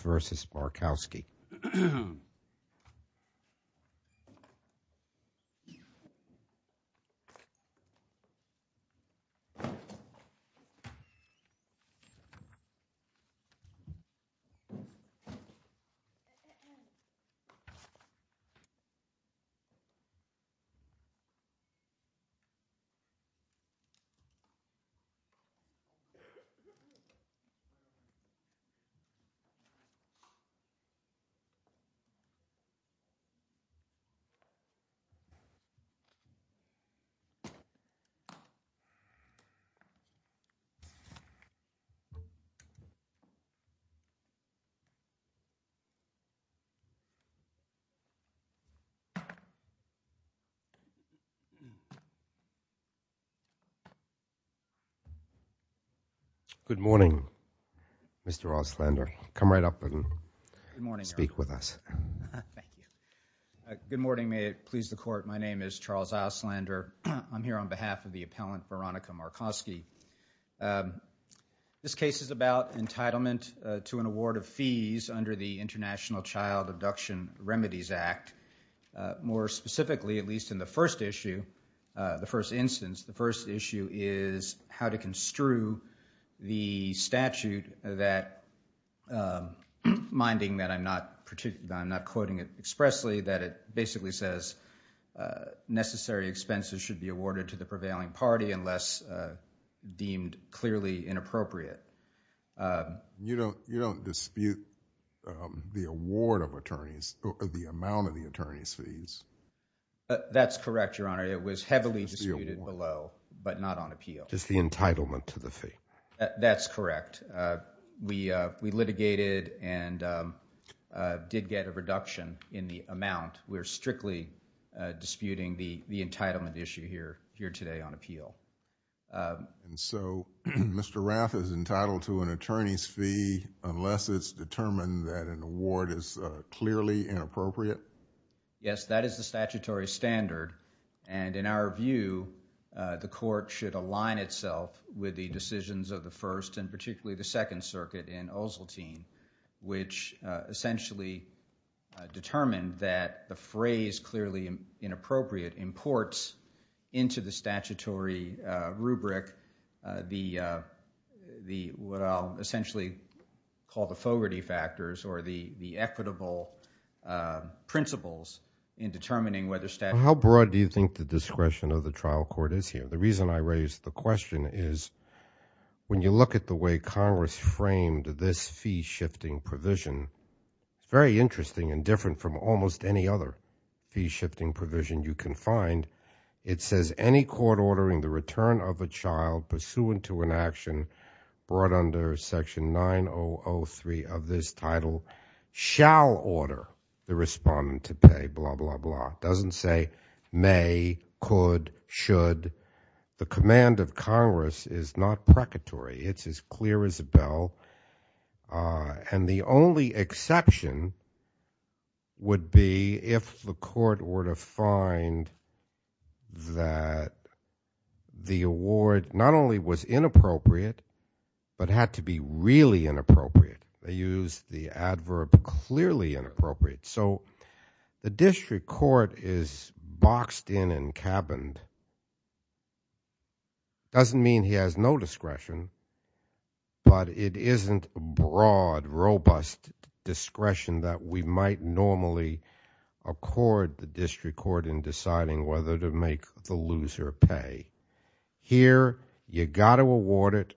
versus Markowski. Good morning, Mr. Roslander. I'm here on behalf of the appellant Veronika Markoski. This case is about entitlement to an award of fees under the International Child Abduction Remedies Act. More specifically, at least in the first issue, the first instance, the first issue is how to construe the statute that, minding that I'm not quoting it expressly, that it basically says necessary expenses should be awarded to the prevailing party unless deemed clearly inappropriate. You don't dispute the award of attorneys, the amount of the attorney's fees? That's correct, Your Honor. It was heavily disputed below, but not on appeal. Just the entitlement to the fee? That's correct. We litigated and did get a reduction in the amount. We're strictly disputing the entitlement issue here today on appeal. So Mr. Rath is entitled to an attorney's fee unless it's determined that an award is clearly inappropriate? Yes, that is the statutory standard. In our view, the court should align itself with the decisions of the First and particularly the Second Circuit in Osseltine, which essentially determined that the phrase clearly inappropriate imports into the statutory rubric what I'll essentially call the Fogarty Factors or the What do you think the discretion of the trial court is here? The reason I raise the question is when you look at the way Congress framed this fee-shifting provision, it's very interesting and different from almost any other fee-shifting provision you can find. It says any court ordering the return of a child pursuant to an action brought under Section 9003 of this title shall order the respondent to pay, blah, blah, blah. It doesn't say may, could, should. The command of Congress is not precatory. It's as clear as a bell. And the only exception would be if the court were to find that the award not only was inappropriate, but had to be really inappropriate. They used the adverb clearly inappropriate. So the district court is boxed in and cabined. Doesn't mean he has no discretion, but it isn't broad, robust discretion that we might normally accord the district court in deciding whether to make the loser pay. Here, you got to award it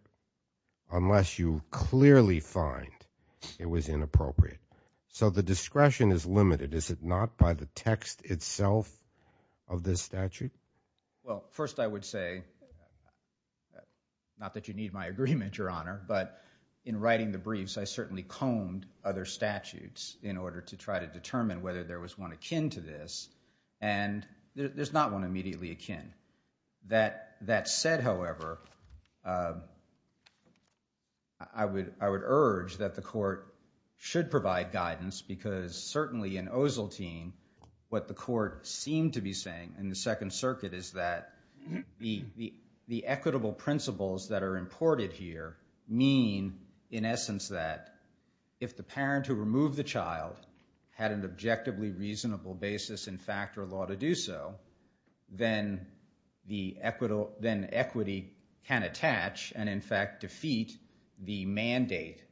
unless you clearly find it was inappropriate. So the discretion is limited, is it not, by the text itself of this statute? Well, first I would say, not that you need my agreement, Your Honor, but in writing the briefs I certainly combed other statutes in order to try to determine whether there was one akin to this, and there's not one immediately akin. That said, however, I would urge that the court should provide guidance because certainly in Ozeltein, what the court seemed to be saying in the Second Circuit is that the equitable principles that are imported here mean, in essence, that if the parent who removed the equity can attach and in fact defeat the mandate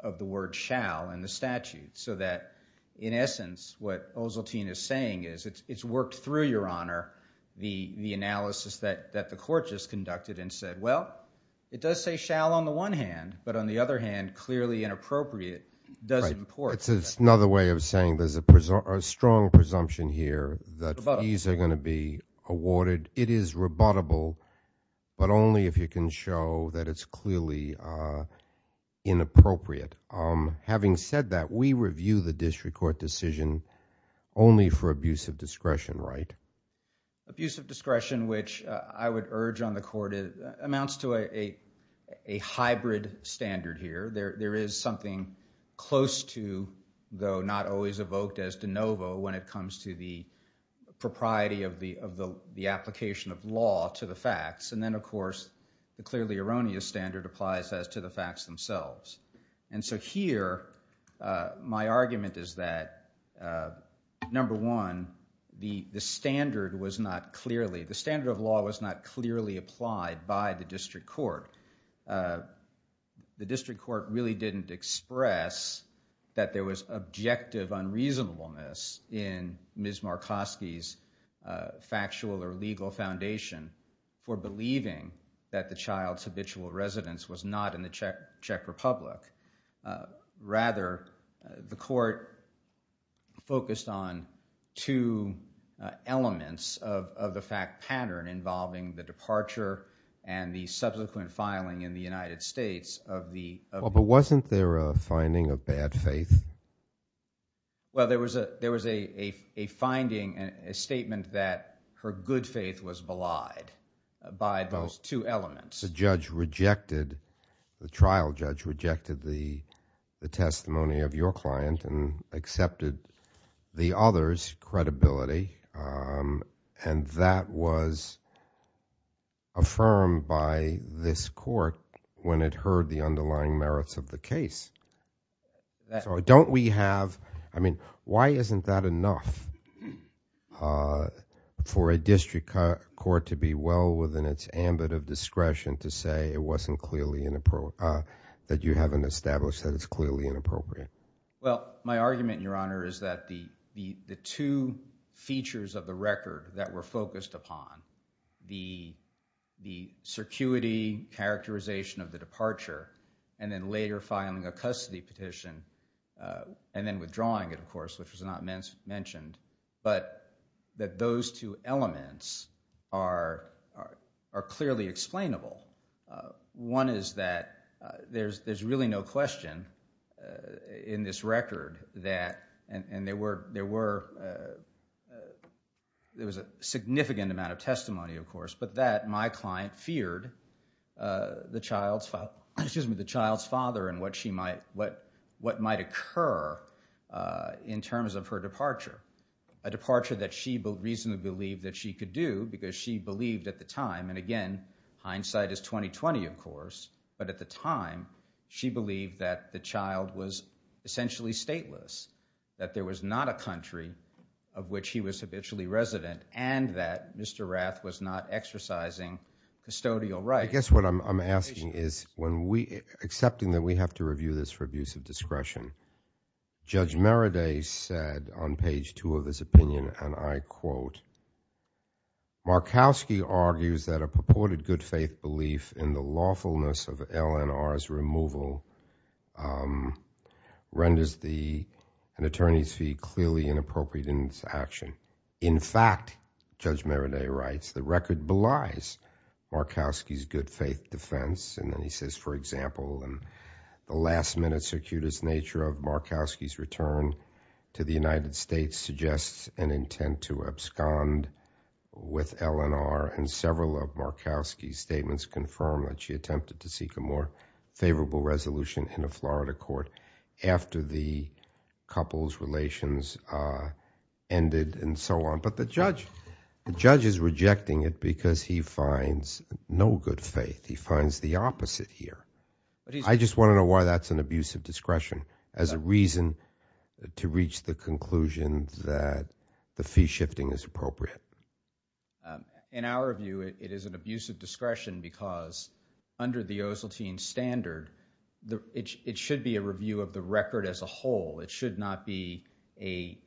of the word shall in the statute. So that, in essence, what Ozeltein is saying is it's worked through, Your Honor, the analysis that the court just conducted and said, well, it does say shall on the one hand, but on the other hand, clearly inappropriate does import. It's another way of saying there's a strong presumption here that fees are going to be awarded. It is rebuttable, but only if you can show that it's clearly inappropriate. Having said that, we review the district court decision only for abuse of discretion, right? Abuse of discretion, which I would urge on the court, amounts to a hybrid standard here. There is something close to, though not always evoked as de novo when it comes to the propriety of the application of law to the facts, and then, of course, the clearly erroneous standard applies as to the facts themselves. And so here, my argument is that, number one, the standard was not clearly, the standard of law was not clearly applied by the district court. The district court really didn't express that there was objective unreasonableness in Ms. Fuchs' factual or legal foundation for believing that the child's habitual residence was not in the Czech Republic. Rather, the court focused on two elements of the fact pattern involving the departure and the subsequent filing in the United States of the- Well, but wasn't there a finding of bad faith? Well, there was a finding, a statement that her good faith was belied by those two elements. The judge rejected, the trial judge rejected the testimony of your client and accepted the other's credibility, and that was affirmed by this court when it heard the underlying merits of the case. So don't we have, I mean, why isn't that enough for a district court to be well within its ambit of discretion to say it wasn't clearly, that you haven't established that it's clearly inappropriate? Well, my argument, Your Honor, is that the two features of the record that were focused upon, the circuity characterization of the departure and then later filing a custody petition and then withdrawing it, of course, which was not mentioned, but that those two elements are clearly explainable. One is that there's really no question in this record that, and there were, there was a significant amount of testimony, of course, but that my client feared the child's father and what she might, what might occur in terms of her departure, a departure that she reasonably believed that she could do because she believed at the time, and again, hindsight is 20-20, of course, but at the time, she believed that the child was essentially stateless, that there was not a country of which he was habitually resident and that Mr. Rath was not exercising custodial rights. I guess what I'm asking is when we, accepting that we have to review this for abuse of discretion, Judge Merriday said on page two of his opinion, and I quote, Markowski argues that a purported good faith belief in the lawfulness of LNR's removal renders the, an attorney's fee clearly inappropriate in its action. In fact, Judge Merriday writes, the record belies Markowski's good faith defense and then he says, for example, in the last minute circuitous nature of Markowski's return to the United States suggests an intent to abscond with LNR and several of Markowski's statements confirm that she attempted to seek a more favorable resolution in a Florida court after the couple's relations ended and so on. But the judge, the judge is rejecting it because he finds no good faith, he finds the opposite here. I just want to know why that's an abuse of discretion as a reason to reach the conclusion that the fee shifting is appropriate. In our view, it is an abuse of discretion because under the Oseltine standard, it should be a review of the record as a whole. It should not be a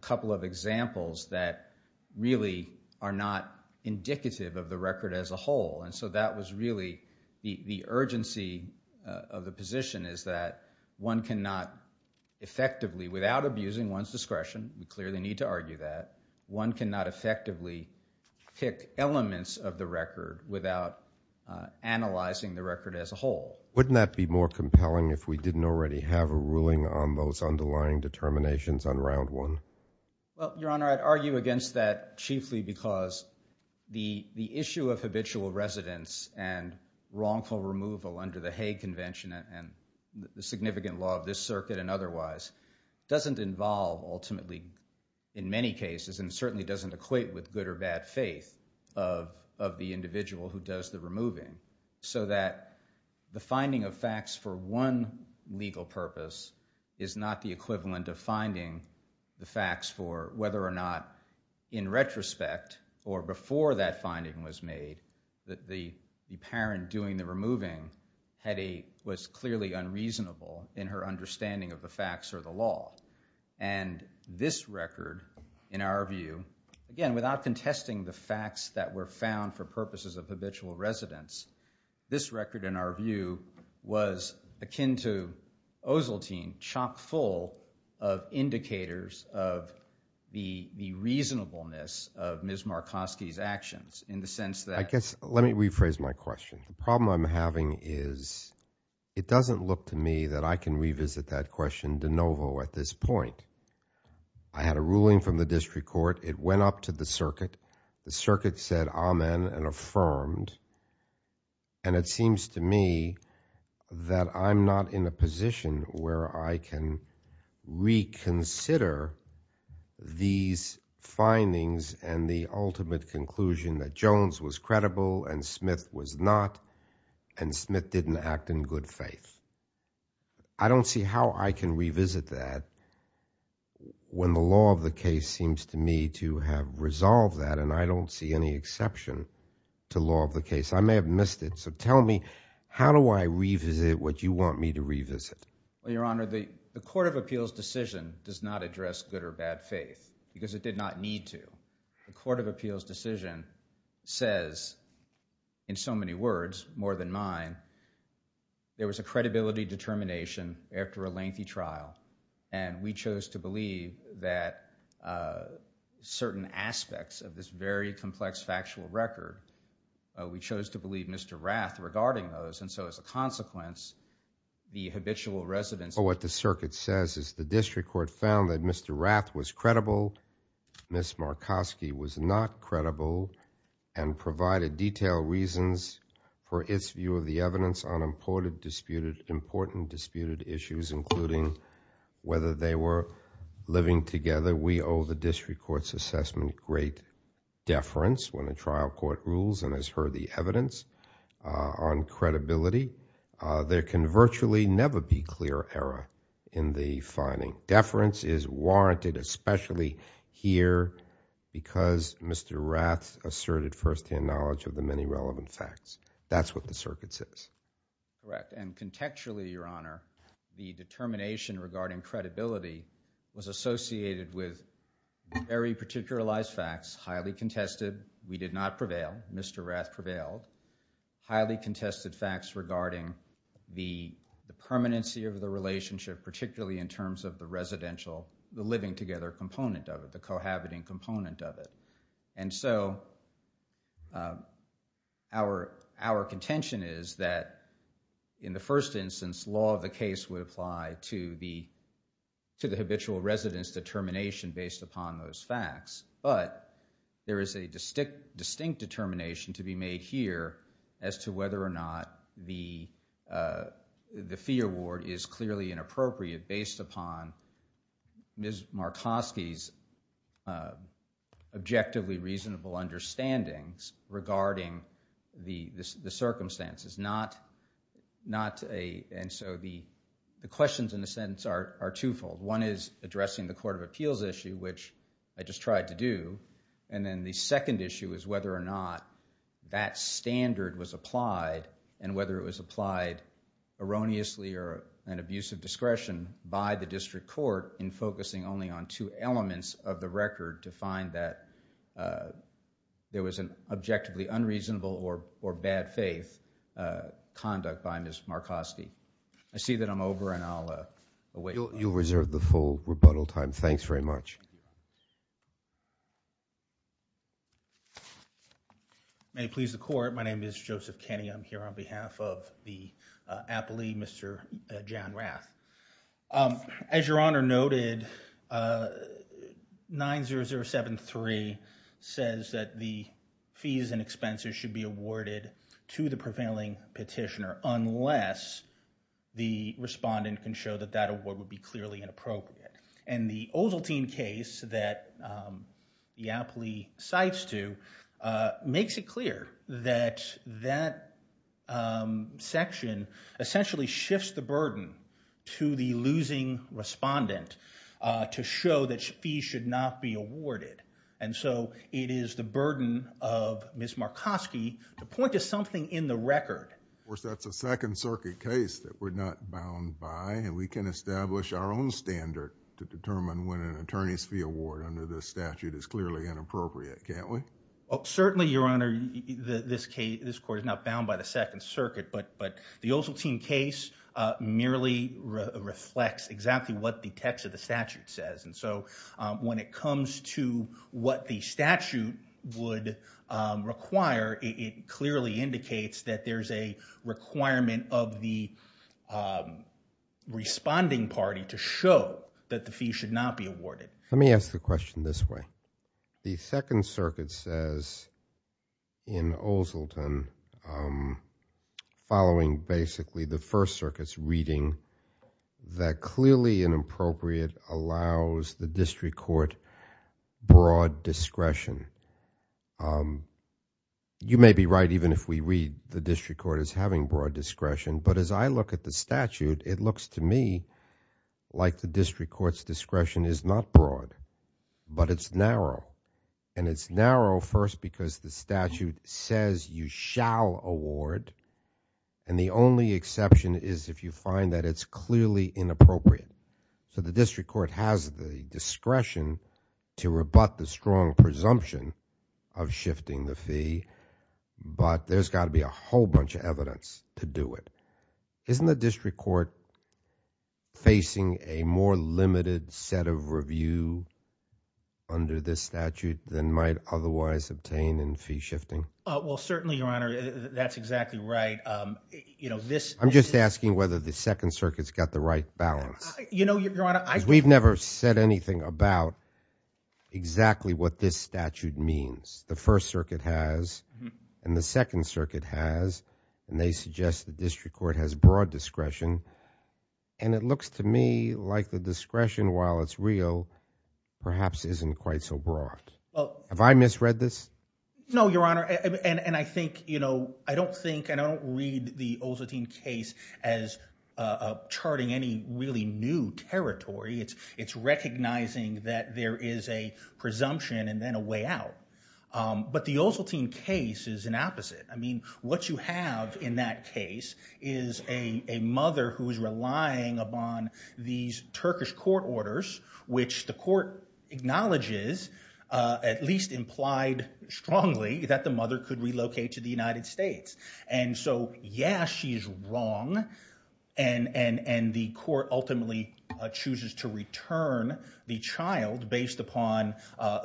couple of examples that really are not indicative of the record as a whole. And so that was really the urgency of the position is that one cannot effectively, without abusing one's discretion, we clearly need to argue that, one cannot effectively pick elements of the record without analyzing the record as a whole. Wouldn't that be more compelling if we didn't already have a ruling on those underlying determinations on round one? Well, Your Honor, I'd argue against that chiefly because the issue of habitual residence and wrongful removal under the Hague Convention and the significant law of this circuit and otherwise doesn't involve ultimately in many cases and certainly doesn't equate with good or bad faith of the individual who does the removing. So that the finding of facts for one legal purpose is not the equivalent of finding the facts for whether or not in retrospect or before that finding was made that the parent doing the removing was clearly unreasonable in her understanding of the facts or the law. And this record, in our view, again, without contesting the facts that were found for purposes of habitual residence, this record, in our view, was akin to Oseltine chock full of indicators of the reasonableness of Ms. Markoski's actions in the sense that- I guess, let me rephrase my question. The problem I'm having is it doesn't look to me that I can revisit that question de novo at this point. I had a ruling from the district court. It went up to the circuit. The circuit said amen and affirmed. And it seems to me that I'm not in a position where I can reconsider these findings and the ultimate conclusion that Jones was credible and Smith was not and Smith didn't act in good faith. I don't see how I can revisit that when the law of the case seems to me to have resolved that and I don't see any exception to law of the case. I may have missed it. So tell me, how do I revisit what you want me to revisit? Your Honor, the Court of Appeals decision does not address good or bad faith because it did not need to. The Court of Appeals decision says, in so many words, more than mine, there was a credibility determination after a lengthy trial and we chose to believe that certain aspects of this very complex factual record. We chose to believe Mr. Rath regarding those and so as a consequence, the habitual residents... What the circuit says is the district court found that Mr. Rath was credible, Ms. Markoski was not credible and provided detailed reasons for its view of the evidence on imported disputed issues including whether they were living together. We owe the district court's assessment great deference when the trial court rules and has heard the evidence on credibility. There can virtually never be clear error in the finding. Deference is warranted especially here because Mr. Rath asserted first-hand knowledge of the many relevant facts. That's what the circuit says. Correct. And contextually, Your Honor, the determination regarding credibility was associated with very particularized facts, highly contested. We did not prevail. Mr. Rath prevailed. Highly contested facts regarding the permanency of the relationship particularly in terms of the residential, the living together component of it, the cohabiting component of it. And so, our contention is that in the first instance, law of the case would apply to the habitual resident's determination based upon those facts. But there is a distinct determination to be made here as to whether or not the fee award is clearly inappropriate based upon Ms. Markoski's objectively reasonable understandings regarding the circumstances. And so, the questions in the sentence are twofold. One is addressing the Court of Appeals issue, which I just tried to do. And then the second issue is whether or not that standard was applied and whether it was an abuse of discretion by the district court in focusing only on two elements of the record to find that there was an objectively unreasonable or bad faith conduct by Ms. Markoski. I see that I'm over and I'll await... You'll reserve the full rebuttal time. Thanks very much. May it please the Court. My name is Joseph Kenney. I'm here on behalf of the appellee, Mr. John Rath. As Your Honor noted, 90073 says that the fees and expenses should be awarded to the prevailing petitioner unless the respondent can show that that award would be clearly inappropriate. And the Oseltine case that the appellee cites to makes it clear that that section essentially shifts the burden to the losing respondent to show that fees should not be awarded. And so, it is the burden of Ms. Markoski to point to something in the record. Of course, that's a Second Circuit case that we're not bound by and we can establish our own standard to determine when an attorney's fee award under this statute is clearly inappropriate, can't we? Well, certainly, Your Honor, this case... this Court is not bound by the Second Circuit, but the Oseltine case merely reflects exactly what the text of the statute says. And so, when it comes to what the statute would require, it clearly indicates that there's a requirement of the responding party to show that the fees should not be awarded. Let me ask the question this way. The Second Circuit says in Oseltine, following basically the First Circuit's reading, that clearly inappropriate allows the district court broad discretion. You may be right even if we read the district court as having broad discretion, but as I look at the statute, it looks to me like the district court's discretion is not broad, but it's narrow. And it's narrow first because the statute says you shall award, and the only exception is if you find that it's clearly inappropriate. So, the district court has the discretion to rebut the strong presumption of shifting the fee, but there's got to be a whole bunch of evidence to do it. Isn't the district court facing a more limited set of review under this statute than might otherwise obtain in fee shifting? Well, certainly, Your Honor, that's exactly right. You know, this... I'm just asking whether the Second Circuit's got the right balance. You know, Your Honor, I... Because we've never said anything about exactly what this statute means. The First Circuit has, and the Second Circuit has, and they suggest the district court has broad discretion, and it looks to me like the discretion, while it's real, perhaps isn't quite so broad. Well... Have I misread this? No, Your Honor, and I think, you know, I don't think, and I don't read the Oseltine case as charting any really new territory. It's recognizing that there is a presumption and then a way out. But the Oseltine case is an opposite. I mean, what you have in that case is a mother who is relying upon these Turkish court orders, which the court acknowledges, at least implied strongly, that the mother could relocate to the United States. And so, yes, she is wrong, and the court ultimately chooses to return the child based upon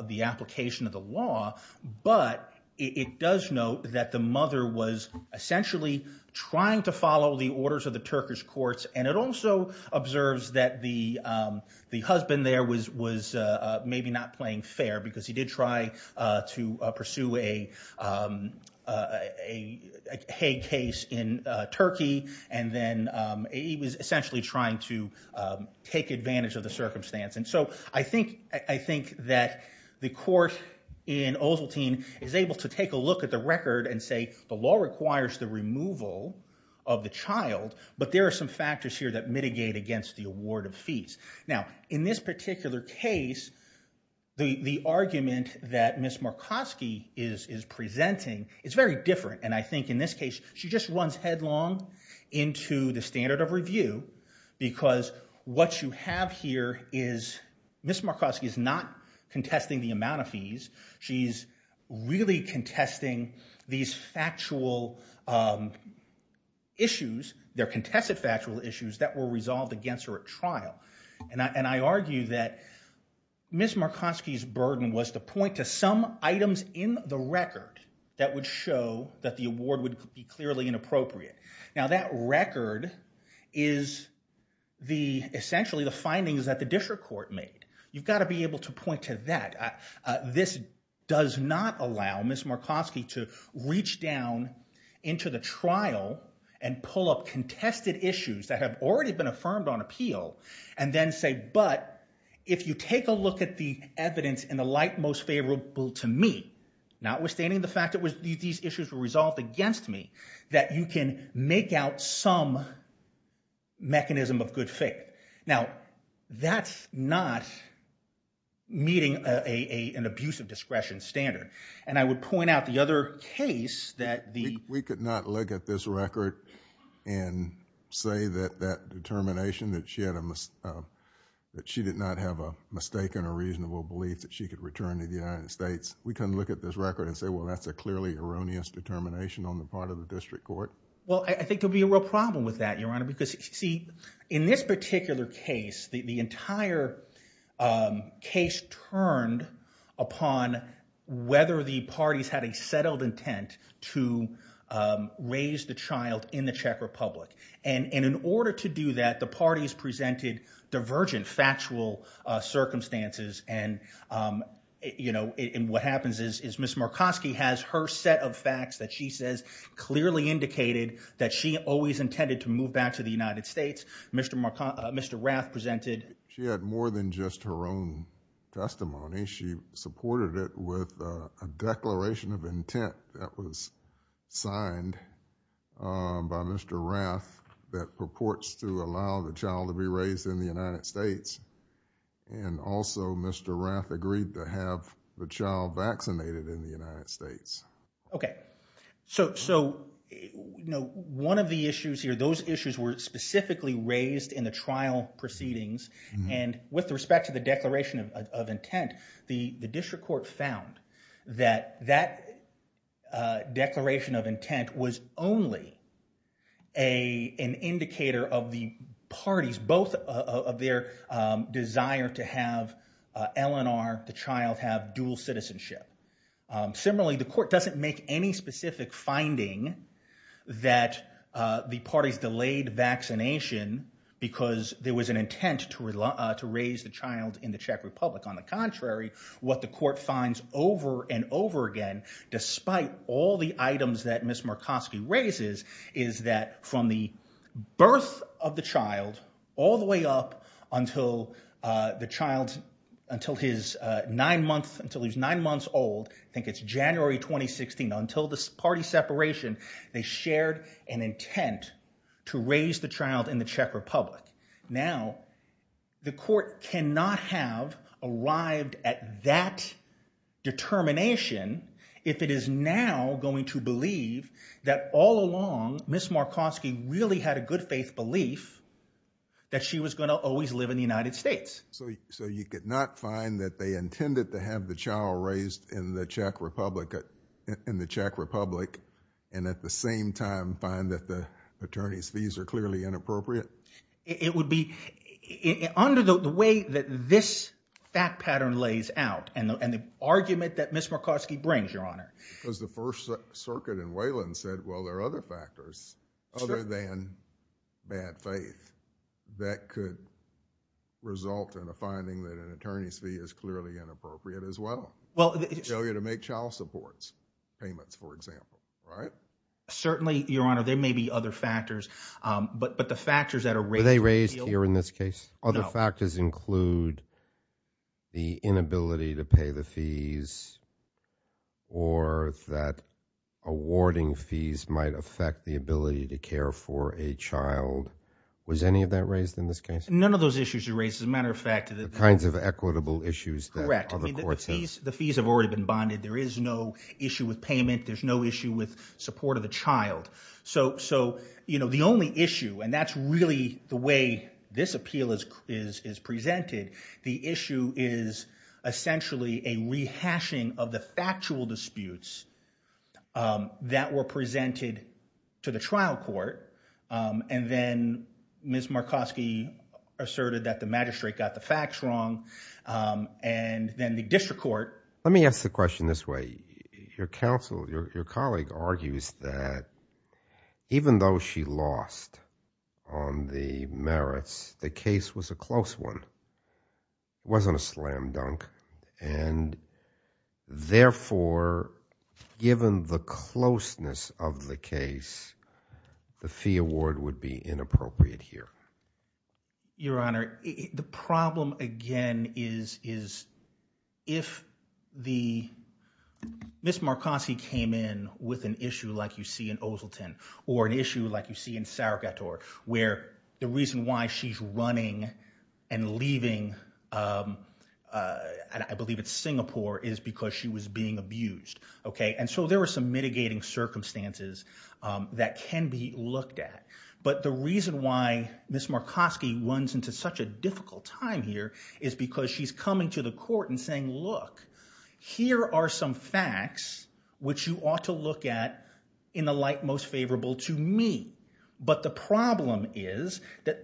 the application of the law, but it does note that the mother was essentially trying to follow the orders of the Turkish courts, and it also observes that the husband there was maybe not playing fair, because he did try to pursue a Hague case in Turkey, and then he was essentially trying to take advantage of the circumstance. And so I think that the court in Oseltine is able to take a look at the record and say the law requires the removal of the child, but there are some factors here that mitigate against the award of fees. Now, in this particular case, the argument that Ms. Markoski is presenting is very different, and I think in this case she just runs headlong into the standard of review, because what you have here is Ms. Markoski is not contesting the amount of fees, she's really contesting these factual issues, their contested factual issues that were resolved against her at trial. And I argue that Ms. Markoski's burden was to point to some items in the record that would show that the award would be clearly inappropriate. Now that record is essentially the findings that the Disher court made. You've got to be able to point to that. This does not allow Ms. Markoski to reach down into the trial and pull up contested issues that have already been affirmed on appeal and then say, but if you take a look at the evidence in the light most favorable to me, notwithstanding the fact that these issues were resolved against me, that you can make out some mechanism of good faith. Now that's not meeting an abuse of discretion standard. And I would point out the other case that the- We could not look at this record and say that that determination that she did not have a mistaken or reasonable belief that she could return to the United States. We couldn't look at this record and say, well, that's a clearly erroneous determination on the part of the district court. Well, I think there'll be a real problem with that, Your Honor, because see, in this particular case, the entire case turned upon whether the parties had a settled intent to raise the child in the Czech Republic. And in order to do that, the parties presented divergent factual circumstances. And what happens is, is Ms. Markoski has her set of facts that she says clearly indicated that she always intended to move back to the United States. Mr. Rath presented- She had more than just her own testimony. She supported it with a declaration of intent that was signed by Mr. Rath that purports to allow the child to be raised in the United States. And also, Mr. Rath agreed to have the child vaccinated in the United States. Okay. So, you know, one of the issues here, those issues were specifically raised in the trial proceedings. And with respect to the declaration of intent, the district court found that that declaration of intent was only an indicator of the parties, both of their desire to have Eleanor, the child, have dual citizenship. Similarly, the court doesn't make any specific finding that the parties delayed vaccination because there was an intent to raise the child in the Czech Republic. On the contrary, what the court finds over and over again, despite all the items that Ms. Markoski raises, is that from the birth of the child all the way up until the child's- old, I think it's January 2016, until the party separation, they shared an intent to raise the child in the Czech Republic. Now, the court cannot have arrived at that determination if it is now going to believe that all along Ms. Markoski really had a good faith belief that she was going to always live in the United States. So you could not find that they intended to have the child raised in the Czech Republic and at the same time find that the attorney's fees are clearly inappropriate? It would be- under the way that this fact pattern lays out and the argument that Ms. Markoski brings, Your Honor. Because the First Circuit in Wayland said, well, there are other factors other than bad faith that could result in a finding that an attorney's fee is clearly inappropriate as well. Well- Failure to make child support payments, for example, right? Certainly, Your Honor. There may be other factors, but the factors that are raised- Were they raised here in this case? No. Other factors include the inability to pay the fees or that awarding fees might affect the ability to care for a child. Was any of that raised in this case? None of those issues are raised. As a matter of fact- The kinds of equitable issues that other courts have- Correct. The fees have already been bonded. There is no issue with payment. There's no issue with support of a child. So, you know, the only issue, and that's really the way this appeal is presented, the to the trial court, and then Ms. Markoski asserted that the magistrate got the facts wrong, and then the district court- Let me ask the question this way. Your counsel, your colleague argues that even though she lost on the merits, the case was a close one. It wasn't a slam dunk, and therefore, given the closeness of the case, the fee award would be inappropriate here. Your Honor, the problem, again, is if the- Ms. Markoski came in with an issue like you where the reason why she's running and leaving, I believe it's Singapore, is because she was being abused, okay? And so there were some mitigating circumstances that can be looked at, but the reason why Ms. Markoski runs into such a difficult time here is because she's coming to the court and saying, look, here are some facts which you ought to look at in the light most favorable to me. But the problem is that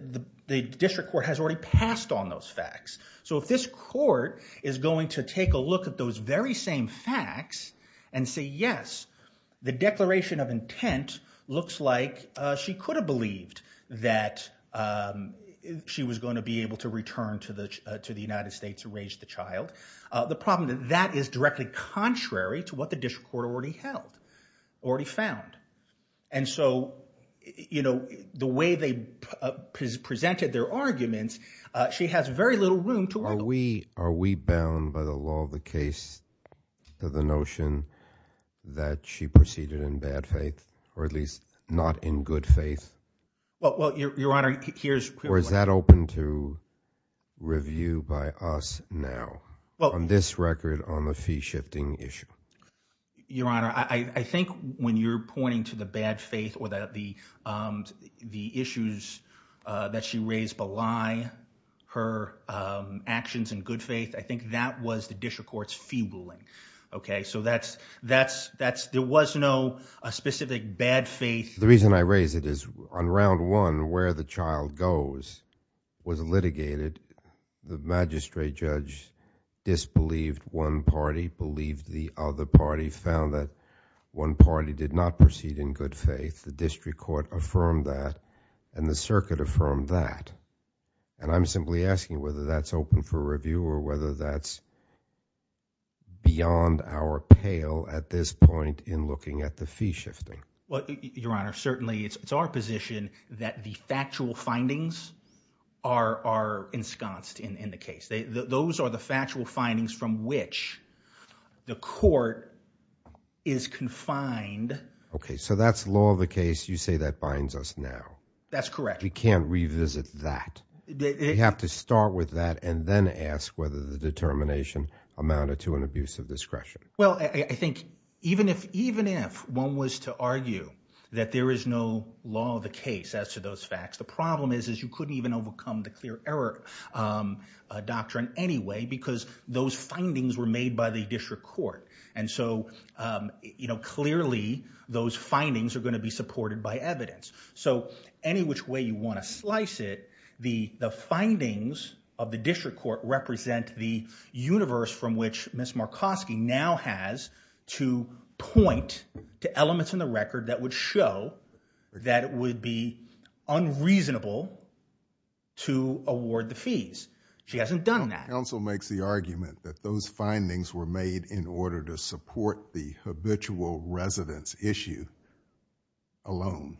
the district court has already passed on those facts. So if this court is going to take a look at those very same facts and say, yes, the declaration of intent looks like she could have believed that she was going to be able to return to the United States to raise the child, the problem that that is directly contrary to what the district court already held, already found. And so, you know, the way they presented their arguments, she has very little room to- Are we bound by the law of the case to the notion that she proceeded in bad faith or at least not in good faith? Well, Your Honor, here's- Or is that open to review by us now on this record on the fee shifting issue? Your Honor, I think when you're pointing to the bad faith or the issues that she raised belie her actions in good faith, I think that was the district court's fee ruling. OK, so that's- there was no specific bad faith. The reason I raise it is on round one, where the child goes was litigated. The magistrate judge disbelieved one party, believed the other party, found that one party did not proceed in good faith. The district court affirmed that and the circuit affirmed that. And I'm simply asking whether that's open for review or whether that's beyond our pale at this point in looking at the fee shifting. Well, Your Honor, certainly it's our position that the factual findings are ensconced in the case. Those are the factual findings from which the court is confined. OK, so that's law of the case. You say that binds us now. That's correct. We can't revisit that. We have to start with that and then ask whether the determination amounted to an abuse of discretion. Well, I think even if one was to argue that there is no law of the case as to those facts, the problem is you couldn't even overcome the clear error doctrine anyway because those findings were made by the district court. And so, you know, clearly those findings are going to be supported by evidence. So any which way you want to slice it, the findings of the district court represent the to point to elements in the record that would show that it would be unreasonable to award the fees. She hasn't done that. Counsel makes the argument that those findings were made in order to support the habitual residence issue alone.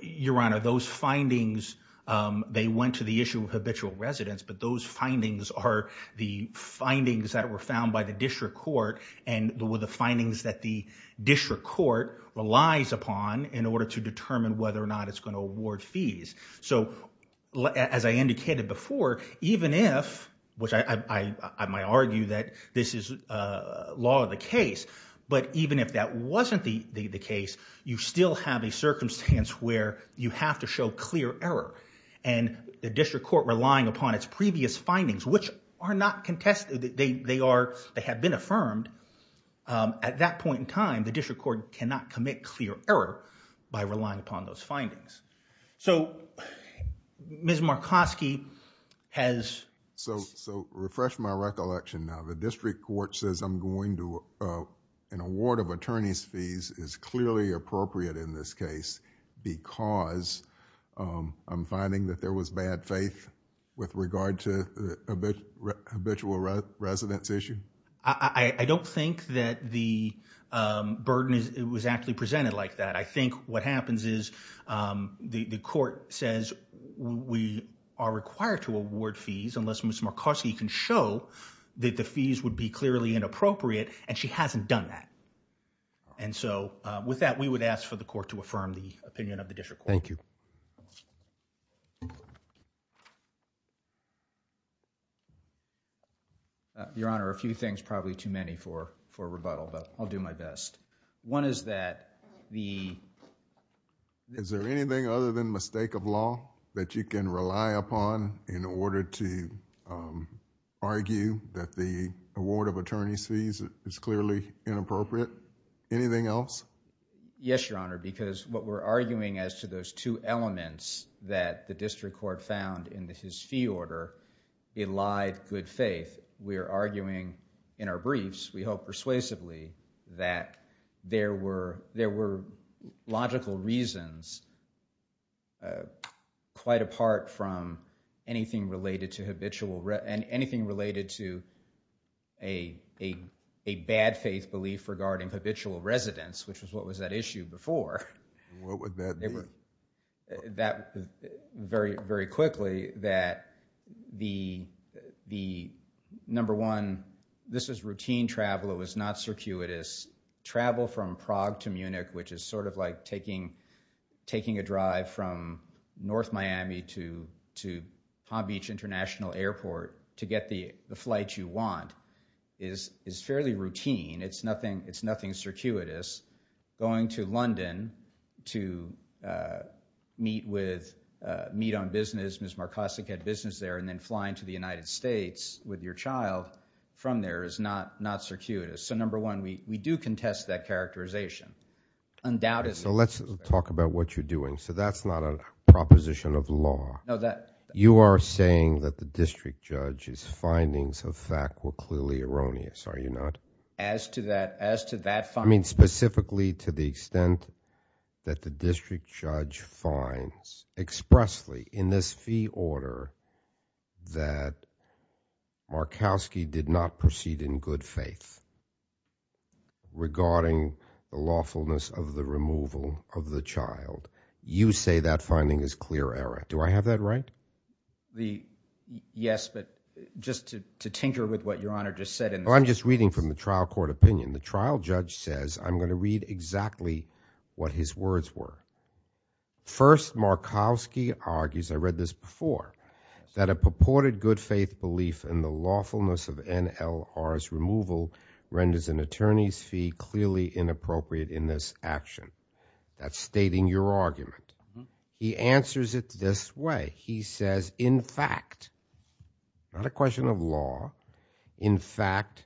Your Honor, those findings, they went to the issue of habitual residence, but those findings are the findings that were found by the district court and were the findings that the district court relies upon in order to determine whether or not it's going to award fees. So as I indicated before, even if, which I might argue that this is law of the case, but even if that wasn't the case, you still have a circumstance where you have to show clear error and the district court relying upon its previous findings, which are not contested, they are, they have been affirmed, at that point in time, the district court cannot commit clear error by relying upon those findings. So Ms. Markoski has... So refresh my recollection now. The district court says I'm going to, an award of attorney's fees is clearly appropriate in this case because I'm finding that there was bad faith with regard to habitual residence issue? I don't think that the burden was actually presented like that. I think what happens is the court says we are required to award fees unless Ms. Markoski can show that the fees would be clearly inappropriate and she hasn't done that. And so with that, we would ask for the court to affirm the opinion of the district court. Thank you. Your Honor, a few things, probably too many for rebuttal, but I'll do my best. One is that the... Is there anything other than mistake of law that you can rely upon in order to argue that the award of attorney's fees is clearly inappropriate? Anything else? Yes, Your Honor, because what we're arguing as to those two elements that the district court found in his fee order, he lied good faith. We're arguing in our briefs, we hope persuasively, that there were logical reasons quite apart from anything related to habitual... Residents, which was what was that issue before. What would that be? That very, very quickly, that the number one, this is routine travel. It was not circuitous. Travel from Prague to Munich, which is sort of like taking a drive from North Miami to Palm Beach International Airport to get the flight you want, is fairly routine. It's nothing circuitous. Going to London to meet on business, Ms. Markosik had business there, and then flying to the United States with your child from there is not circuitous. Number one, we do contest that characterization. Undoubtedly. Let's talk about what you're doing. That's not a proposition of law. You are saying that the district judge's findings of fact were clearly erroneous, are you not? As to that, as to that... I mean, specifically to the extent that the district judge finds expressly in this fee order that Markowski did not proceed in good faith regarding the lawfulness of the removal of the child, you say that finding is clear error. Do I have that right? Yes, but just to tinker with what Your Honor just said... I'm just reading from the trial court opinion. The trial judge says, I'm going to read exactly what his words were. First, Markowski argues, I read this before, that a purported good faith belief in the lawfulness of NLR's removal renders an attorney's fee clearly inappropriate in this action. That's stating your argument. He answers it this way. He says, in fact, not a question of law, in fact,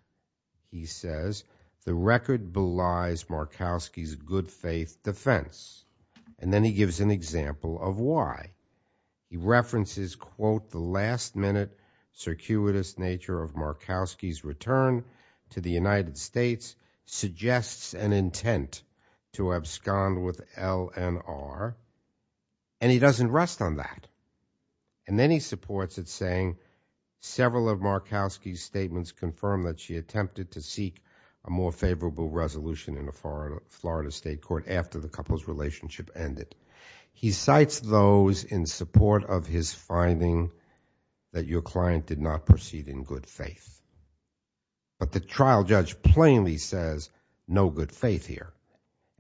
he says, the record belies Markowski's good faith defense. And then he gives an example of why. He references, quote, the last minute circuitous nature of Markowski's return to the United States, suggests an intent to abscond with LNR, and he doesn't rest on that. And then he supports it, saying, several of Markowski's statements confirm that she attempted to seek a more favorable resolution in the Florida State Court after the couple's relationship ended. He cites those in support of his finding that your client did not proceed in good faith. But the trial judge plainly says, no good faith here.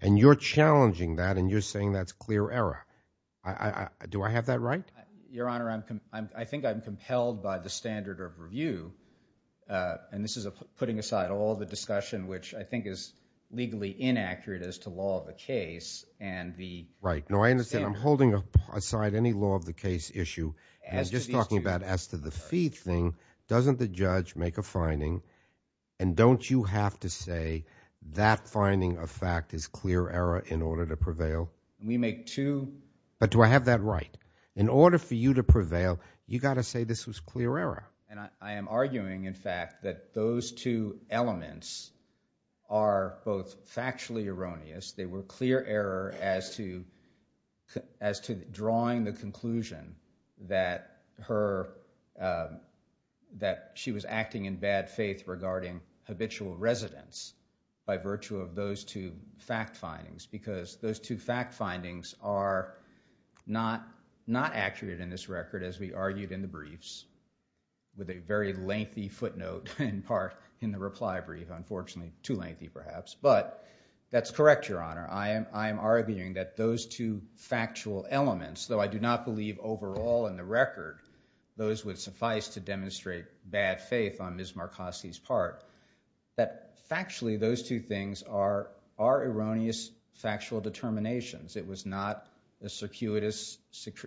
And you're challenging that, and you're saying that's clear error. Do I have that right? Your Honor, I think I'm compelled by the standard of review. And this is putting aside all the discussion, which I think is legally inaccurate as to law of the case and the standard. Right. No, I understand. I'm holding aside any law of the case issue, and I'm just talking about as to the fee thing. Doesn't the judge make a finding, and don't you have to say that finding of fact is clear error in order to prevail? We make two. But do I have that right? In order for you to prevail, you got to say this was clear error. And I am arguing, in fact, that those two elements are both factually erroneous. They were clear error as to drawing the conclusion that she was acting in bad faith regarding habitual residence by virtue of those two fact findings. Because those two fact findings are not accurate in this record as we argued in the briefs with a very lengthy footnote in part in the reply brief. Unfortunately, too lengthy perhaps. But that's correct, Your Honor. I am arguing that those two factual elements, though I do not believe overall in the record those would suffice to demonstrate bad faith on Ms. Marcosi's part, that factually those two things are erroneous factual determinations. It was not a circuitous,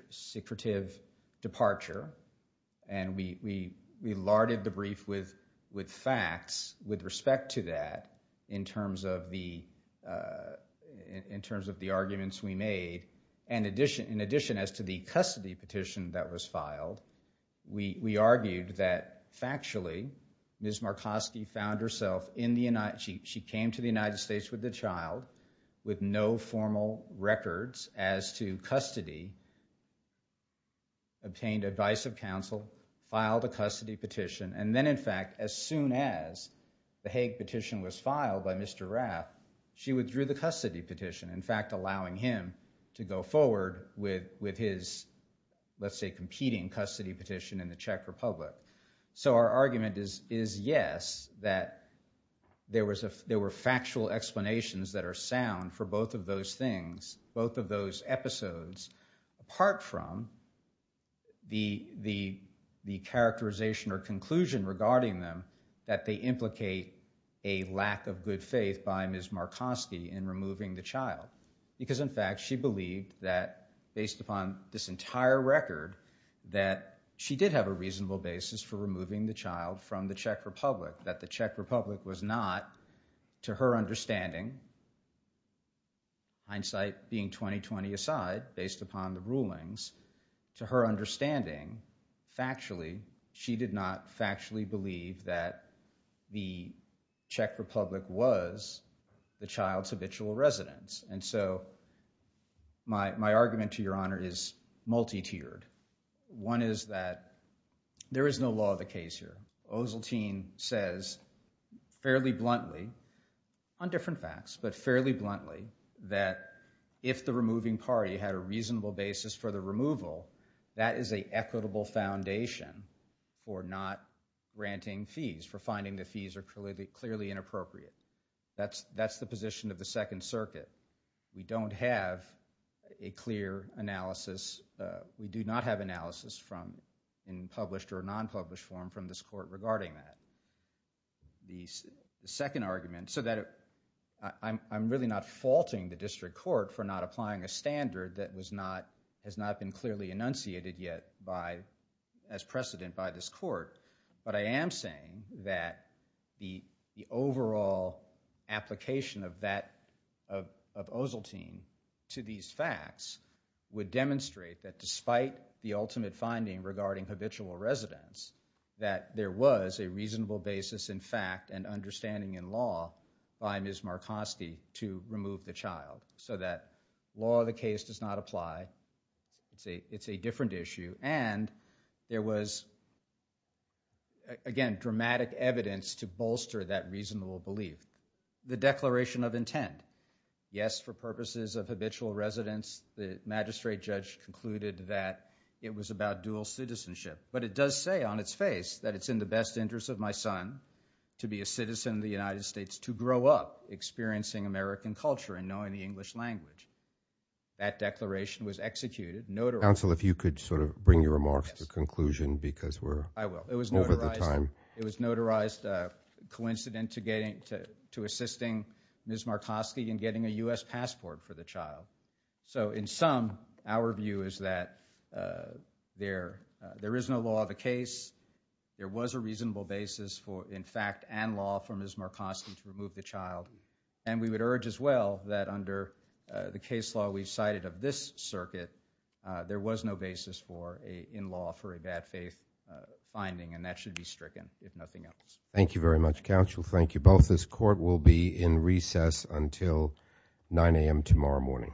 secretive departure. And we larded the brief with facts with respect to that in terms of the arguments we made. And in addition as to the custody petition that was filed, we argued that factually Ms. Marcosi came to the United States with the child with no formal records as to custody, obtained advice of counsel, filed a custody petition, and then in fact as soon as the Hague petition was filed by Mr. Rath, she withdrew the custody petition, in fact allowing him to go forward with his, let's say, competing custody petition in the Czech Republic. So our argument is yes, that there were factual explanations that are sound for both of those things, both of those episodes, apart from the characterization or conclusion regarding them that they implicate a lack of good faith by Ms. Marcosi in removing the child. Because in fact she believed that based upon this entire record that she did have a reasonable basis for removing the child from the Czech Republic, that the Czech Republic was not to her understanding, hindsight being 20-20 aside based upon the rulings, to her understanding factually, she did not factually believe that the Czech Republic was the child's habitual residence. And so my argument to your honor is multi-tiered. One is that there is no law of the case here. Ozeltyn says fairly bluntly, on different facts, but fairly bluntly that if the removing party had a reasonable basis for the removal, that is an equitable foundation for not granting fees, for finding the fees are clearly inappropriate. That's the position of the Second Circuit. We don't have a clear analysis. We do not have analysis in published or non-published form from this court regarding that. The second argument, so that I'm really not faulting the district court for not applying a standard that has not been clearly enunciated yet as precedent by this court, but I am saying that the overall application of Ozeltyn to these facts would demonstrate that despite the ultimate finding regarding habitual residence, that there was a reasonable basis in fact and understanding in law by Ms. Markoski to remove the child. So that law of the case does not apply. It's a different issue. And there was, again, dramatic evidence to bolster that reasonable belief. The declaration of intent, yes, for purposes of habitual residence, the magistrate judge concluded that it was about dual citizenship, but it does say on its face that it's in the best interest of my son to be a citizen of the United States to grow up experiencing American culture and knowing the English language. That declaration was executed. Counsel, if you could sort of bring your remarks to conclusion because we're over the time. It was notarized coincident to assisting Ms. Markoski in getting a U.S. passport for the child. So in sum, our view is that there is no law of the case. There was a reasonable basis for, in fact, and law for Ms. Markoski to remove the child. And we would urge as well that under the case law we've cited of this circuit, there was no basis for a in law for a bad faith finding. And that should be stricken, if nothing else. Thank you very much, counsel. Thank you. Both this court will be in recess until 9 a.m. tomorrow morning.